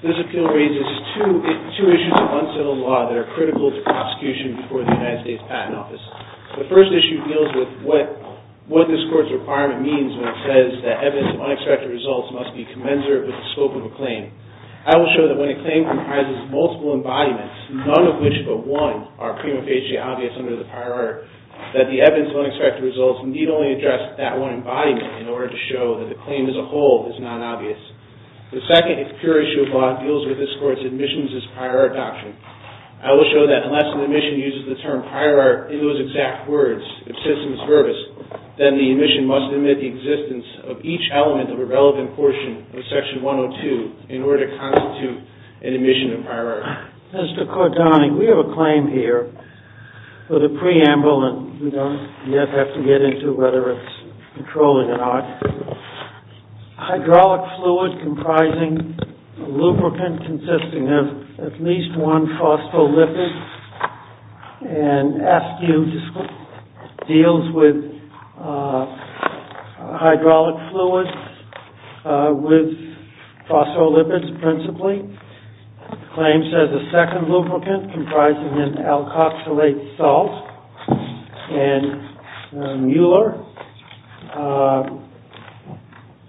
This appeal raises two issues of unsettled law that are critical to prosecution before the United States Patent Office. The first issue deals with what this court's requirement means when it says that evidence of unexpected results must be commensurate with the scope of a claim. I will show that when a claim comprises multiple embodiments, none of which but one are prima facie obvious under the prior art, that the evidence of unexpected results need only address that one embodiment in order to show that the claim as a whole is non-obvious. The second, if pure issue of law, deals with this court's admissions as prior art doctrine. I will show that unless an admission uses the term prior art in those exact words, if of a relevant portion of Section 102 in order to constitute an admission of prior art. Mr. Cardone, we have a claim here for the preamble, and we don't yet have to get into whether it's controlled or not. Hydraulic fluid comprising a lubricant consisting of at least one phospholipid and askew deals with hydraulic fluid with phospholipids principally, claims there's a second lubricant comprising an alkoxylate salt, and Mueller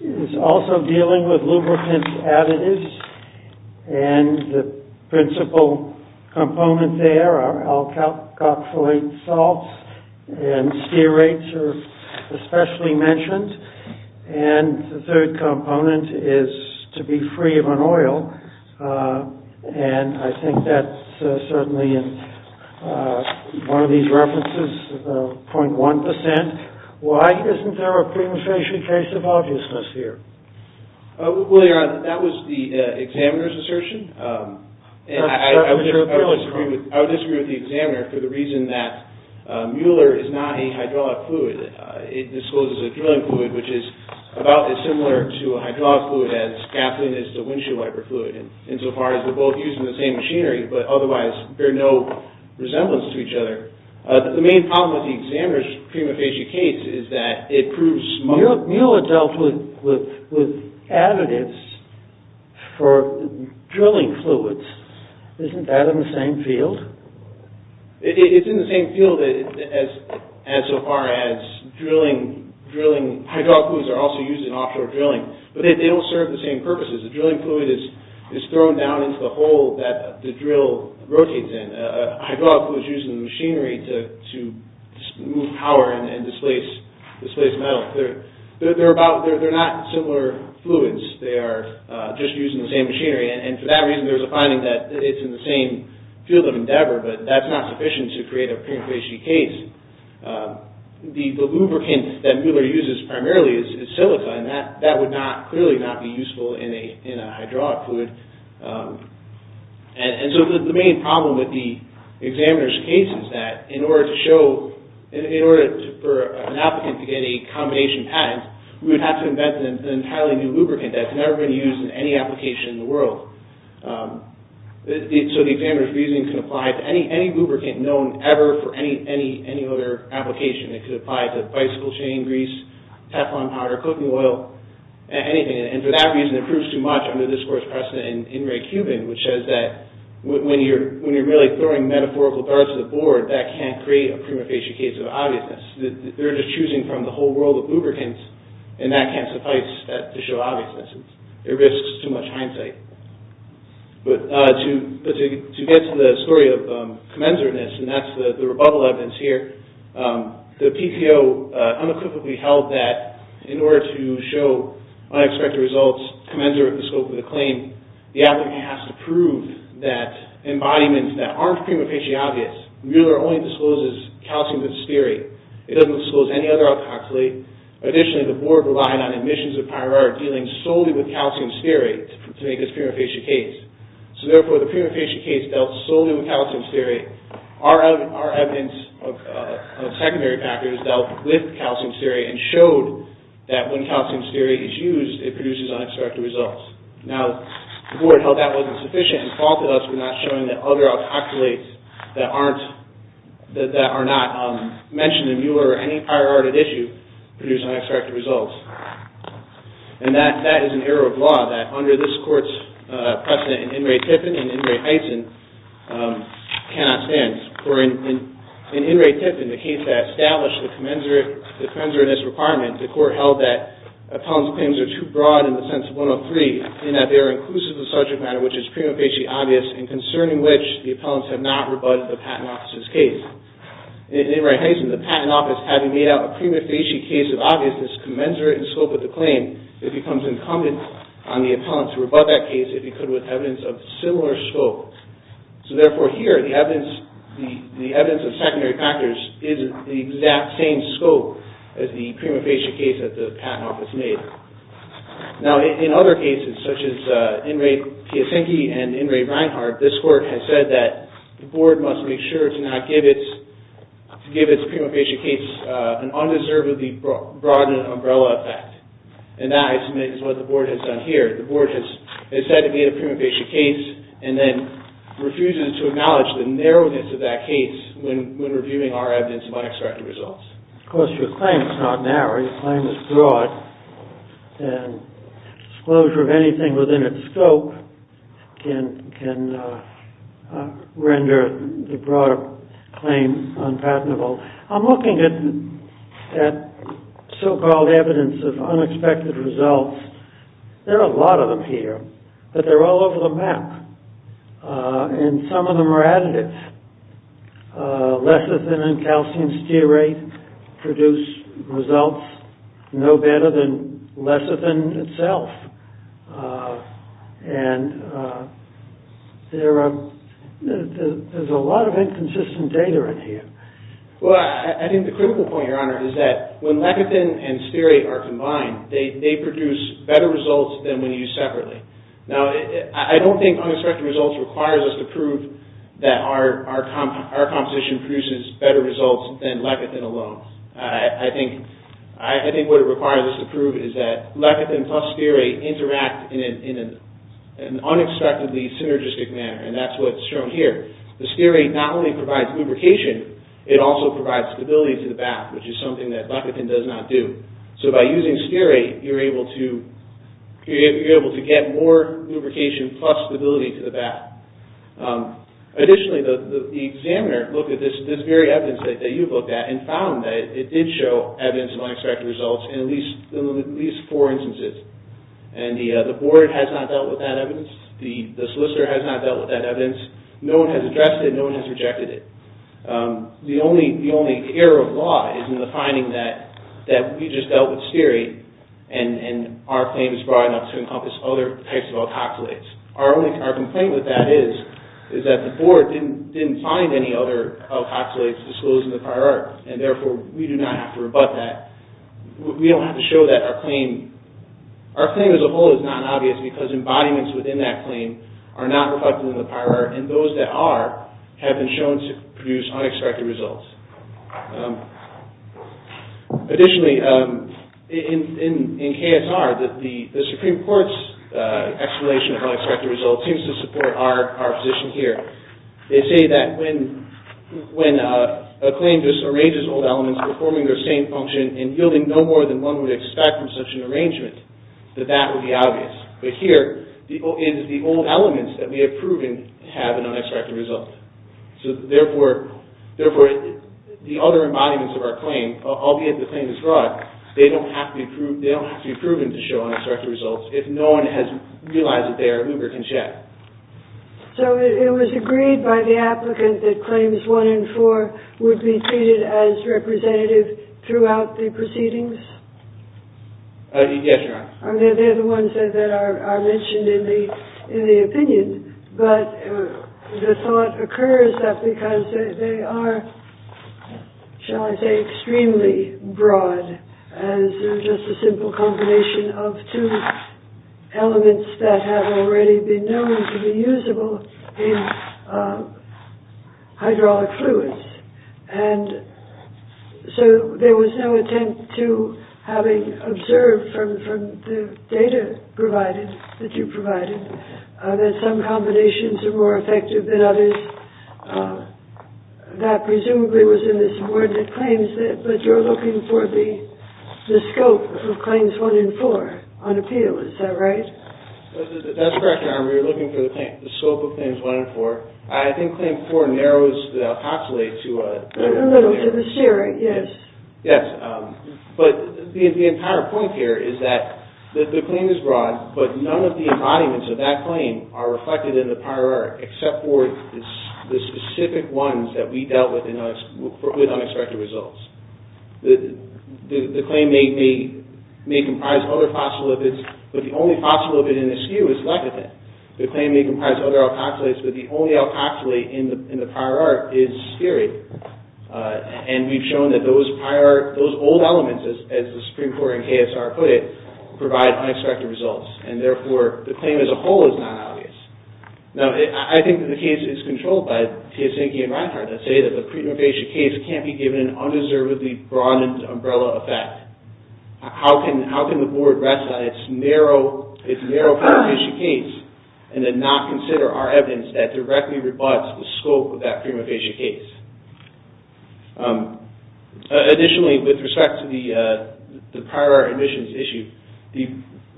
is also dealing with lubricant additives, and the principal component there are alkoxylate salts, and steer rates are especially mentioned, and the third component is to be free of an oil, and I think that's certainly in one of these references, the 0.1%. Why isn't there a premonition case of obviousness here? Well, Your Honor, that was the examiner's assertion, and I would disagree with the examiner for the reason that Mueller is not a hydraulic fluid. It discloses a drilling fluid, which is about as similar to a hydraulic fluid as Kaplan is to windshield wiper fluid, insofar as they're both using the same machinery, but otherwise bear no resemblance to each other. The main problem with the examiner's prima facie case is that it proves Mueller dealt with additives for drilling fluids, isn't that in the same field? It's in the same field as so far as drilling, hydraulic fluids are also used in offshore drilling, but they don't serve the same purposes, a drilling fluid is thrown down into the hole that the drill rotates in, a hydraulic fluid is used in the machinery to move power and displace metal. They're not similar fluids, they are just using the same machinery, and for that reason there's a finding that it's in the same field of endeavor, but that's not sufficient to create a prima facie case. The lubricant that Mueller uses primarily is silica, and that would clearly not be useful in a hydraulic fluid. And so the main problem with the examiner's case is that in order for an applicant to get a combination patent, we would have to invent an entirely new lubricant that's never been used in any application in the world. So the examiner's reasoning can apply to any lubricant known ever for any other application. It could apply to bicycle chain grease, Teflon powder, cooking oil, anything, and for that reason it proves too much under this course precedent in Ray Cuban, which says that when you're really throwing metaphorical darts at the board, that can't create a prima facie case of obviousness. They're just choosing from the whole world of lubricants, and that can't suffice to show obviousness. It risks too much hindsight. But to get to the story of commensurateness, and that's the rebuttal evidence here, the claim, the applicant has to prove that embodiments that aren't prima facie obvious, Mueller only discloses calcium with stearate. It doesn't disclose any other alkoxylate. Additionally, the board relied on admissions of prior art dealing solely with calcium stearate to make this prima facie case. So therefore, the prima facie case dealt solely with calcium stearate. Our evidence of secondary factors dealt with calcium stearate and showed that when calcium stearate is used, it produces unexpected results. Now, the board held that wasn't sufficient and faulted us for not showing that other alkoxylates that are not mentioned in Mueller or any prior art at issue produce unexpected results. And that is an error of law that under this court's precedent in In re Tiffin and In re Heysen cannot stand. In In re Tiffin, the case that established the commensurateness requirement, the court held that appellant's claims are too broad in the sense of 103 and that they are inclusive of subject matter, which is prima facie obvious and concerning which the appellants have not rebutted the patent office's case. In In re Heysen, the patent office, having made out a prima facie case of obviousness commensurate in scope with the claim, it becomes incumbent on the appellant to rebut that case if he could with evidence of similar scope. So therefore, here, the evidence of secondary factors is the exact same scope as the prima facie case that the patent office made. Now, in other cases, such as In re Piasecki and In re Reinhart, this court has said that the board must make sure to not give its prima facie case an undeservedly broad umbrella effect. And that, I submit, is what the board has done here. The board has said it made a prima facie case and then refuses to acknowledge the narrowness of that case when reviewing our evidence of unexpected results. Of course, your claim is not narrow. Your claim is broad. And disclosure of anything within its scope can render the broader claim unpatentable. I'm looking at so-called evidence of unexpected results. There are a lot of them here. But they're all over the map. And some of them are additive. Lecithin and calcium stearate produce results no better than lecithin itself. And there's a lot of inconsistent data in here. Well, I think the critical point, Your Honor, is that when lecithin and stearate are combined, they produce better results than when used separately. Now, I don't think unexpected results requires us to prove that our composition produces better results than lecithin alone. I think what it requires us to prove is that lecithin plus stearate interact in an unexpectedly synergistic manner. And that's what's shown here. The stearate not only provides lubrication, it also provides stability to the bath, which is something that lecithin does not do. So by using stearate, you're able to get more lubrication plus stability to the bath. Additionally, the examiner looked at this very evidence that you've looked at and found that it did show evidence of unexpected results in at least four instances. And the board has not dealt with that evidence. The solicitor has not dealt with that evidence. No one has addressed it. No one has rejected it. The only error of law is in the finding that we just dealt with stearate, and our claim is broad enough to encompass other types of alkoxylates. Our complaint with that is that the board didn't find any other alkoxylates disclosed in the prior art, and therefore we do not have to rebut that. We don't have to show that our claim... Our claim as a whole is not obvious because embodiments within that claim are not reflected in the prior art, and those that are have been shown to produce unexpected results. Additionally, in KSR, the Supreme Court's exhalation of unexpected results seems to support our position here. They say that when a claim just arranges old elements performing their same function and yielding no more than one would expect from such an arrangement, that that would be obvious. But here, the old elements that we have proven have an unexpected result. So therefore, the other embodiments of our claim, albeit the claim is broad, they don't have to be proven to show unexpected results if no one has realized that they are lubricant jet. So it was agreed by the applicant that claims one and four would be treated as representative throughout the proceedings? Yes, Your Honor. They're the ones that are mentioned in the opinion, but the thought occurs that because they are, shall I say, extremely broad as just a simple combination of two elements that have already been known to be usable in hydraulic fluids. And so there was no attempt to having observed from the data provided, that you provided, that some combinations are more effective than others. That presumably was in this award that claims that, but you're looking for the scope of claims one and four on appeal. Is that right? That's correct, Your Honor. We were looking for the scope of claims one and four. I think claim four narrows the alkoxylate to a... A little to the sheer, yes. Yes. But the entire point here is that the claim is broad, but none of the embodiments of that claim are reflected in the prior art, except for the specific ones that we dealt with with unexpected results. The claim may comprise other phospholipids, but the only phospholipid in the SKU is lecithin. The claim may comprise other alkoxylates, but the only alkoxylate in the prior art is spirit. And we've shown that those old elements, as the Supreme Court and KSR put it, provide unexpected results. And therefore, the claim as a whole is not obvious. Now, I think that the case is controlled by Tiesenke and Reinhardt that say that the pre-mutation case can't be given an undeservedly broadened umbrella effect. How can the board rest on its narrow pre-mutation case and then not consider our evidence that directly rebuts the scope of that pre-mutation case? Additionally, with respect to the prior art admissions issue,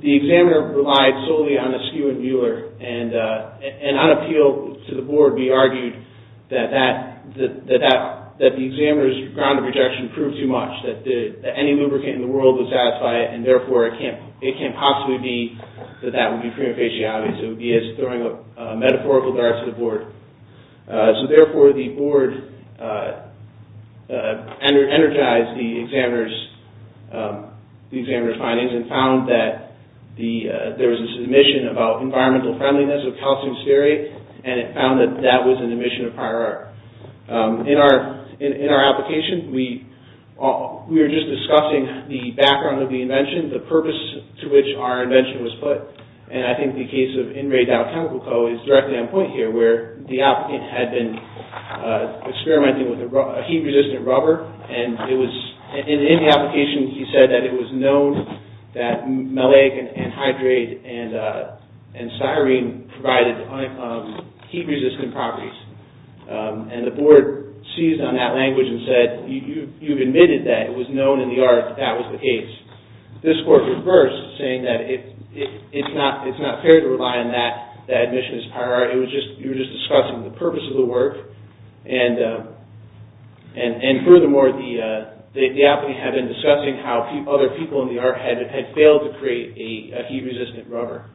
the examiner relied solely on a SKU and Mueller. And on appeal to the board, we argued that the examiner's ground of rejection proved too much, that any lubricant in the world would satisfy it, and therefore, it can't possibly be that that would be pre-mutation. It would be as throwing a metaphorical dart to the board. So therefore, the board energized the examiner's findings and found that there was a submission about environmental friendliness of calcium spherate, and it found that that was an admission of prior art. In our application, we were just discussing the background of the invention, the purpose to which our invention was put. And I think the case of in-ray dial chemical coat is directly on point here where the applicant had been experimenting with a heat-resistant rubber, and in the application, he said that it was known that maleic anhydride and sirene provided heat-resistant properties. And the board seized on that language and said, you've admitted that it was known in the art that that was the case. This court reversed, saying that it's not fair to rely on that admission as prior art. You were just discussing the purpose of the work. And furthermore, the applicant had been discussing how other people in the art had failed to create a heat-resistant rubber.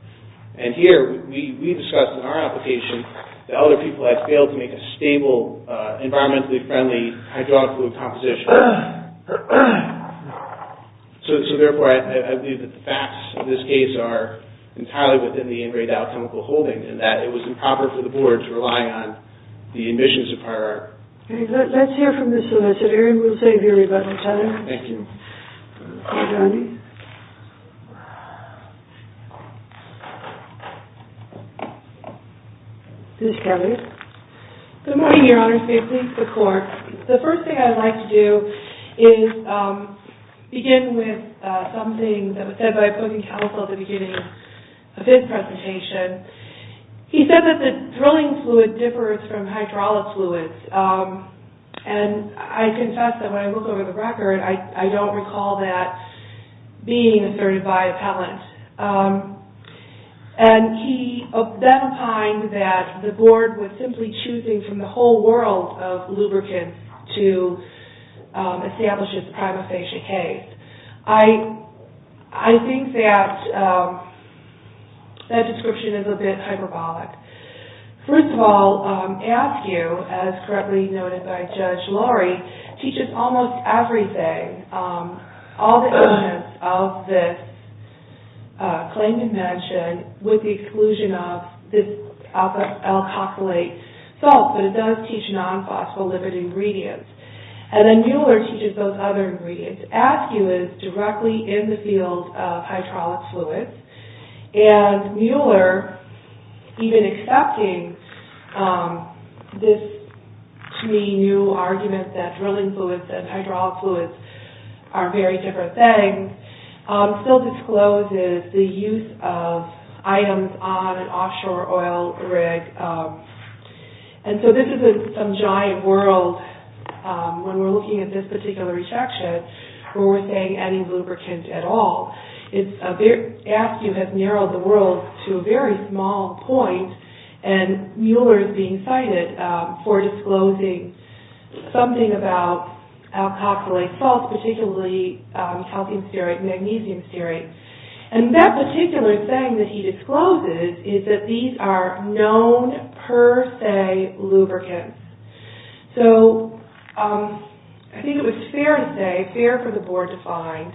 And here, we discussed in our application that other people had failed to make a stable, environmentally friendly hydraulic fluid composition. So therefore, I believe that the facts of this case are entirely within the in-ray dial chemical holding, and that it was improper for the board to rely on the admissions of prior art. Okay, let's hear from this solicitor, and we'll save you a rebuttal, Tyler. Thank you. Thank you, Andy. Ms. Kelley. Good morning, Your Honors. May it please the Court. The first thing I'd like to do is begin with something that was said by a opposing counsel at the beginning of his presentation. He said that the drilling fluid differs from hydraulic fluids, and I confess that when I recall that being asserted by appellant. And he then opined that the board was simply choosing from the whole world of lubricants to establish its prima facie case. I think that that description is a bit hyperbolic. First of all, Askew, as correctly noted by Judge Laurie, teaches almost everything. All the elements of this claim to mention, with the exclusion of this alkoxylate salt, but it does teach non-phospholipid ingredients. And then Mueller teaches those other ingredients. Askew is directly in the field of hydraulic fluids. And Mueller, even accepting this, to me, new argument that drilling fluids and hydraulic fluids are very different things, still discloses the use of items on an offshore oil rig. And so this is some giant world, when we're looking at this particular rejection, where we're saying any lubricant at all. Askew has narrowed the world to a very small point, and Mueller is being cited for disclosing something about alkoxylate salt, particularly calcium stearate and magnesium stearate. And that particular thing that he discloses is that these are known per se lubricants. So, I think it was fair to say, fair for the board to find,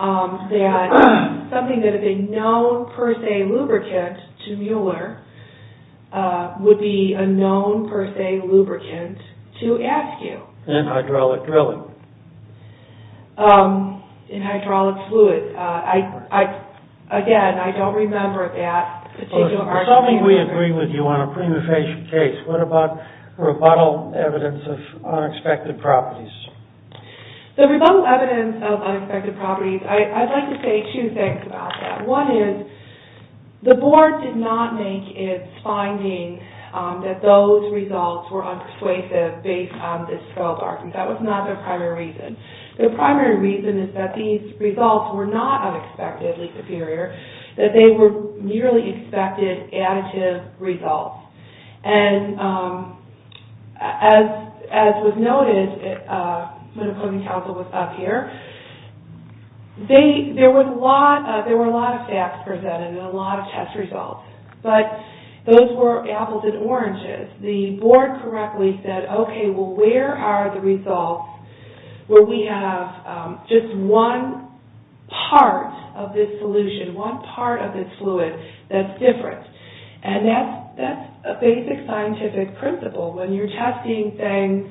that something that is a known per se lubricant to Mueller, would be a known per se lubricant to Askew. In hydraulic drilling. In hydraulic fluids. Again, I don't remember that particular argument. If something we agree with you on a prima facie case, what about rebuttal evidence of unexpected properties? The rebuttal evidence of unexpected properties, I'd like to say two things about that. One is, the board did not make its finding that those results were unpersuasive based on this 12 arguments. That was not their primary reason. Their primary reason is that these results were not unexpectedly superior, that they were merely expected additive results. And, as was noted, when the voting council was up here, there were a lot of facts presented and a lot of test results. But, those were apples and oranges. The board correctly said, okay, well where are the results where we have just one part of this solution, one part of this fluid that's different? And, that's a basic scientific principle. When you're testing things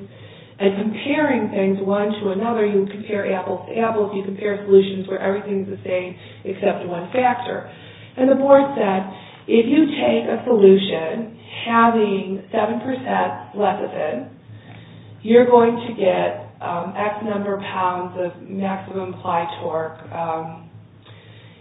and comparing things one to another, you compare apples to apples, you compare solutions where everything's the same except one factor. And, the board said, if you take a solution having 7% lecithin, you're going to get X number of pounds of maximum applied torque.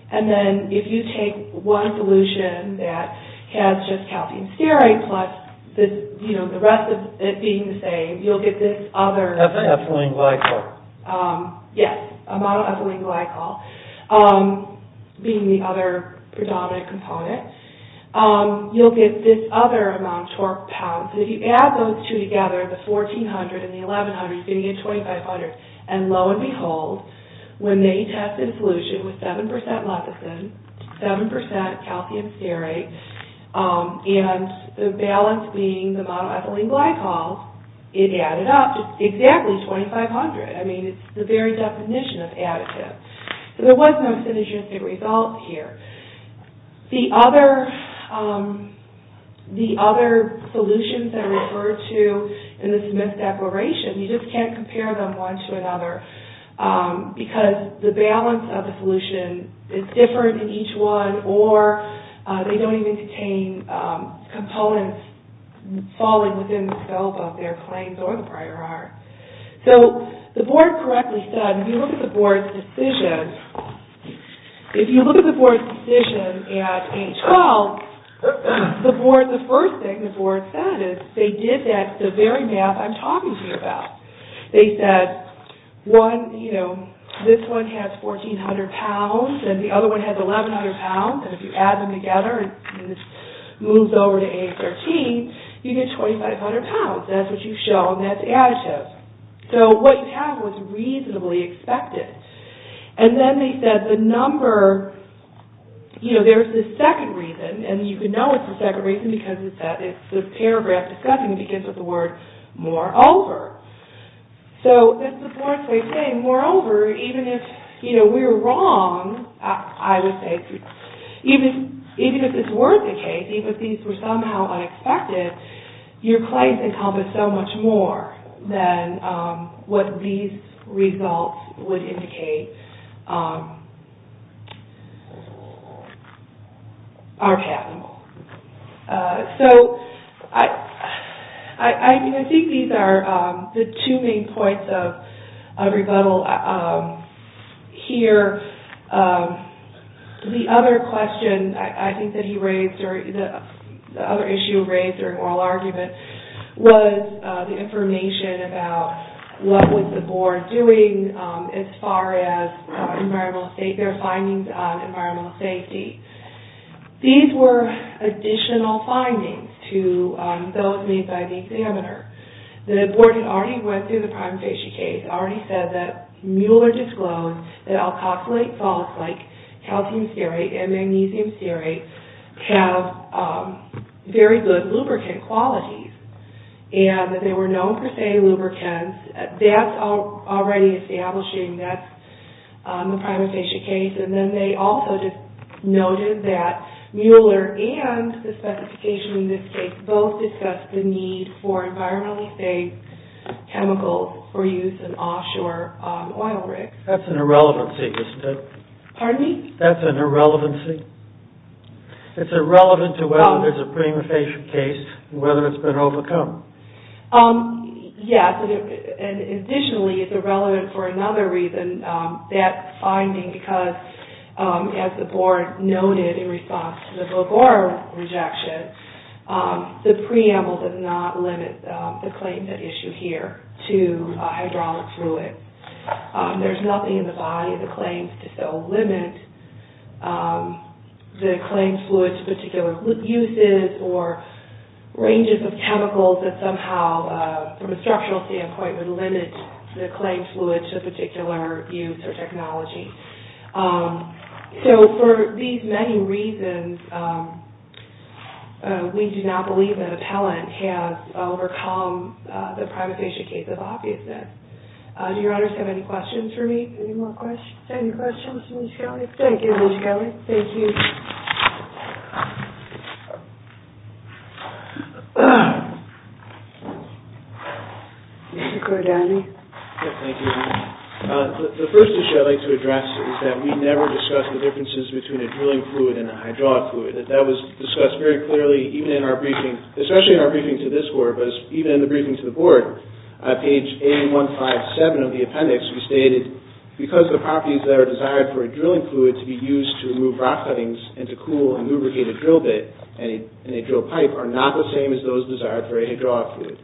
And then, if you take one solution that has just calcium stearate plus the rest of it being the same, you'll get this other... Ethylene glycol. Yes, a model of ethylene glycol being the other predominant component. You'll get this other amount of torque pounds. If you add those two together, the 1,400 and the 1,100, you're going to get 2,500. And, lo and behold, when they tested a solution with 7% lecithin, 7% calcium stearate, and the balance being the model ethylene glycol, it added up to exactly 2,500. I mean, it's the very definition of additive. So, there was no synergistic result here. The other solutions that are referred to in the Smith separation, you just can't compare them one to another because the balance of the solution is different in each one, or they don't even contain components falling within the scope of their claims or the prior art. So, the board correctly said, if you look at the board's decision, if you look at the board's decision at 8-12, the first thing the board said is, they did that to the very math I'm talking to you about. They said, this one has 1,400 pounds and the other one has 1,100 pounds, and if you add them together and this moves over to 8-13, you get 2,500 pounds. That's what you've shown. That's additive. So, what you have was reasonably expected. And then they said, the number, you know, there's this second reason, and you can know it's the second reason because it's this paragraph discussing, it begins with the word, moreover. So, it's the board's way of saying, moreover, even if, you know, we're wrong, I would say, even if it's worth the case, even if these were somehow unexpected, your claims encompass so much more than what these results would indicate are patentable. So, I think these are the two main points of rebuttal here. The other question I think that he raised, or the other issue raised during oral argument, was the information about what was the board doing as far as environmental state, their findings on environmental safety. These were additional findings to those made by the examiner. The board had already went through the prime facie case, and had already said that Mueller disclosed that alkoxylate salts like calcium stearate and magnesium stearate have very good lubricant qualities, and that they were known for safe lubricants. That's already establishing that's the prime facie case. And then they also noted that Mueller and the specification in this case both discussed the need for environmentally safe chemicals for use in offshore oil rigs. That's an irrelevancy, isn't it? Pardon me? That's an irrelevancy. It's irrelevant to whether there's a prime facie case and whether it's been overcome. Yes, and additionally, it's irrelevant for another reason, that finding because, as the board noted in response to the Bogor rejection, the preamble does not limit the claims at issue here to hydraulic fluid. There's nothing in the body of the claims to still limit the claimed fluid to particular uses or ranges of chemicals that somehow, from a structural standpoint, would limit the claimed fluid to a particular use or technology. So for these many reasons, we do not believe that appellant has overcome the prime facie case of obviousness. Do your honors have any questions for me? Any more questions? Any questions, Ms. Kelly? Thank you, Ms. Kelly. Thank you. Mr. Cordani? Thank you. The first issue I'd like to address is that we never discussed the differences between a drilling fluid and a hydraulic fluid. That was discussed very clearly, even in our briefing, especially in our briefing to this board, but even in the briefing to the board. On page 8157 of the appendix, we stated, because the properties that are desired for a drilling fluid to be used to remove rock cuttings and to cool and lubricate a drill bit in a drill pipe are not the same as those desired for a hydraulic fluid.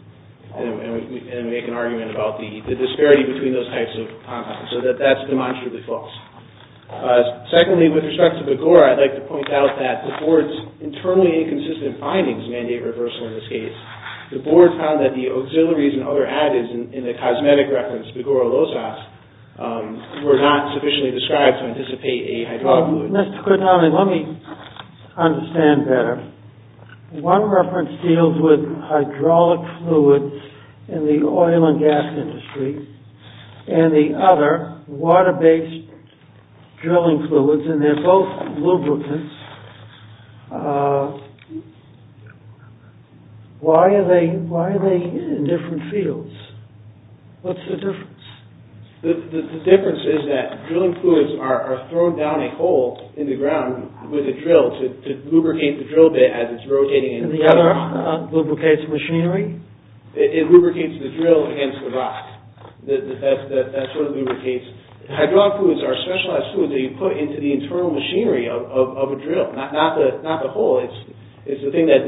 And we can make an argument about the disparity between those types of compounds, so that that's demonstrably false. Secondly, with respect to Begora, I'd like to point out that the board's internally inconsistent findings mandate reversal in this case. The board found that the auxiliaries and other additives in the cosmetic reference, Begora Losas, were not sufficiently described to anticipate a hydraulic fluid. Let's put it down, and let me understand better. One reference deals with hydraulic fluids in the oil and gas industry, and the other, water-based drilling fluids, and they're both lubricants. Why are they in different fields? What's the difference? The difference is that drilling fluids are thrown down a hole in the ground with a drill to lubricate the drill bit as it's rotating. And the other lubricates machinery? It lubricates the drill against the rock. That's what it lubricates. Hydraulic fluids are specialized fluids that you put into the internal machinery of a drill, not the hole. It's the thing that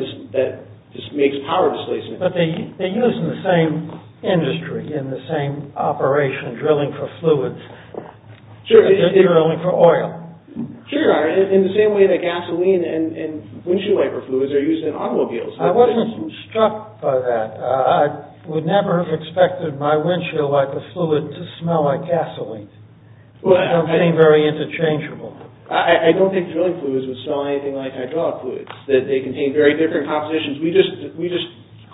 just makes power displacement. But they're used in the same industry, in the same operation, drilling for fluids. They're drilling for oil. Sure, in the same way that gasoline and windshield wiper fluids are used in automobiles. I wasn't struck by that. I would never have expected my windshield wiper fluid to smell like gasoline. They don't seem very interchangeable. I don't think drilling fluids would smell anything like hydraulic fluids. They contain very different compositions. We just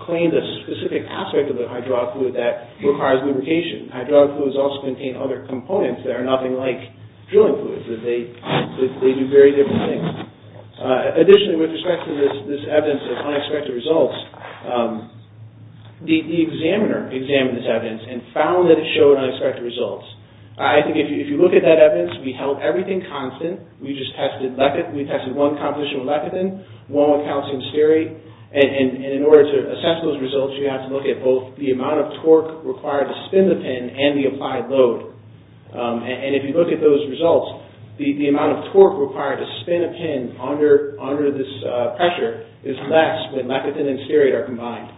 claimed a specific aspect of the hydraulic fluid that requires lubrication. Hydraulic fluids also contain other components that are nothing like drilling fluids. They do very different things. Additionally, with respect to this evidence of unexpected results, the examiner examined this evidence and found that it showed unexpected results. I think if you look at that evidence, we held everything constant. We tested one composition with lepidin, one with calcium stearate. In order to assess those results, you have to look at both the amount of torque required to spin the pin and the applied load. If you look at those results, the amount of torque required to spin a pin under this pressure is less when lepidin and stearate are combined.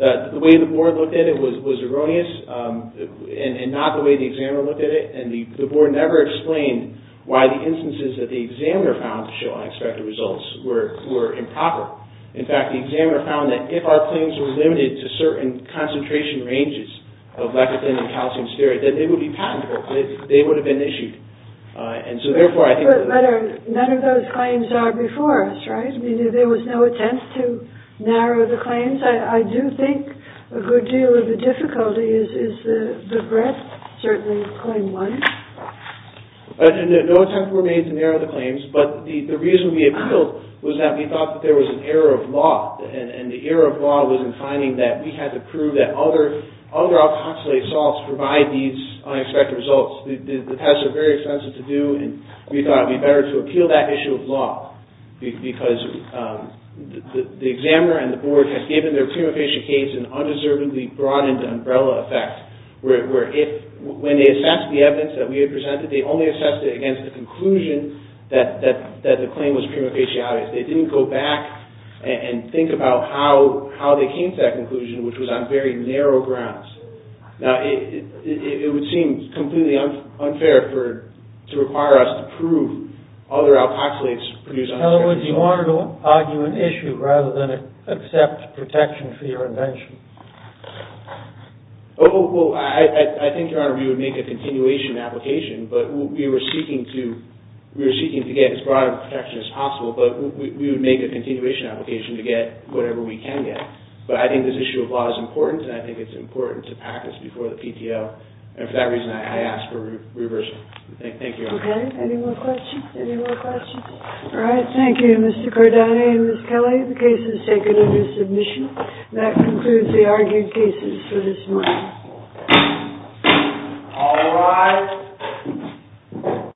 The way the board looked at it was erroneous and not the way the examiner looked at it. The board never explained why the instances that the examiner found to show unexpected results were improper. In fact, the examiner found that if our claims were limited to certain concentration ranges of lepidin and calcium stearate, then they would be patentable. They would have been issued. Therefore, I think that... None of those claims are before us, right? There was no attempt to narrow the claims. I do think a good deal of the difficulty is the breadth, certainly, of Claim 1. No attempts were made to narrow the claims, but the reason we appealed was that we thought that there was an error of law. The error of law was in finding that we had to prove that other alkoxylate salts provide these unexpected results. The tests were very expensive to do, and we thought it would be better to appeal that issue of law because the examiner and the board had given their prima facie case an undeservedly broadened umbrella effect. When they assessed the evidence that we had presented, they only assessed it against the conclusion that the claim was prima facie obvious. They didn't go back and think about how they came to that conclusion, which was on very narrow grounds. Now, it would seem completely unfair to require us to prove other alkoxylates produce unexpected results. In other words, you wanted to argue an issue rather than accept protection for your invention. Oh, well, I think, Your Honor, we would make a continuation application, but we were seeking to get as broad a protection as possible, but we would make a continuation application to get whatever we can get. But I think this issue of law is important, and I think it's important to practice before the PTO, and for that reason, I ask for a reversal. Thank you, Your Honor. Okay. Any more questions? Any more questions? All right. Thank you, Mr. Cordani and Ms. Kelly. The case is taken under submission. That concludes the argued cases for this morning. All rise.